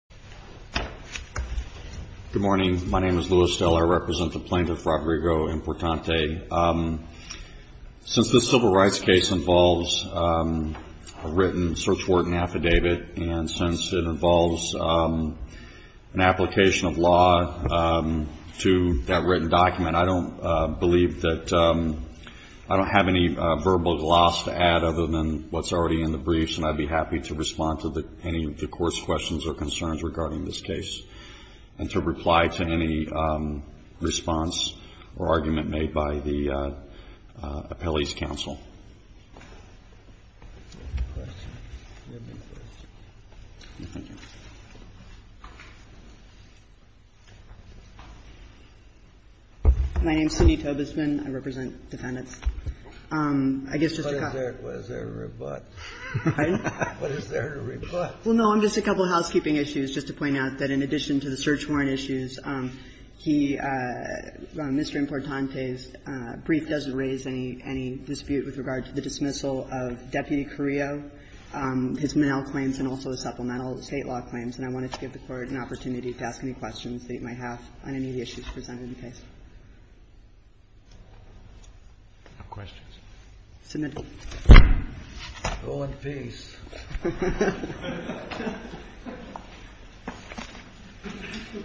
Good morning, my name is Lewis Dell. I represent the plaintiff, Rodrigo Importante. Since this civil rights case involves a written search warrant affidavit, and since it involves an application of law to that written document, I don't believe that I don't have any verbal gloss to add other than what's already in the briefs, and I'd be happy to respond to any of the Court's questions or concerns regarding this case and to reply to any response or argument made by the appellee's counsel. My name is Cindy Tobesman. I represent defendants. I guess, Mr. Kopp. What is there to rebut? Pardon? What is there to rebut? Well, no, just a couple of housekeeping issues, just to point out that in addition to the search warrant issues, he, Mr. Importante's brief doesn't raise any dispute with regard to the dismissal of Deputy Carrillo, his Menel claims, and also his supplemental State law claims, and I wanted to give the Court an opportunity to ask any questions that you might have on any of the issues presented in the case. No questions? Senator. Go in peace.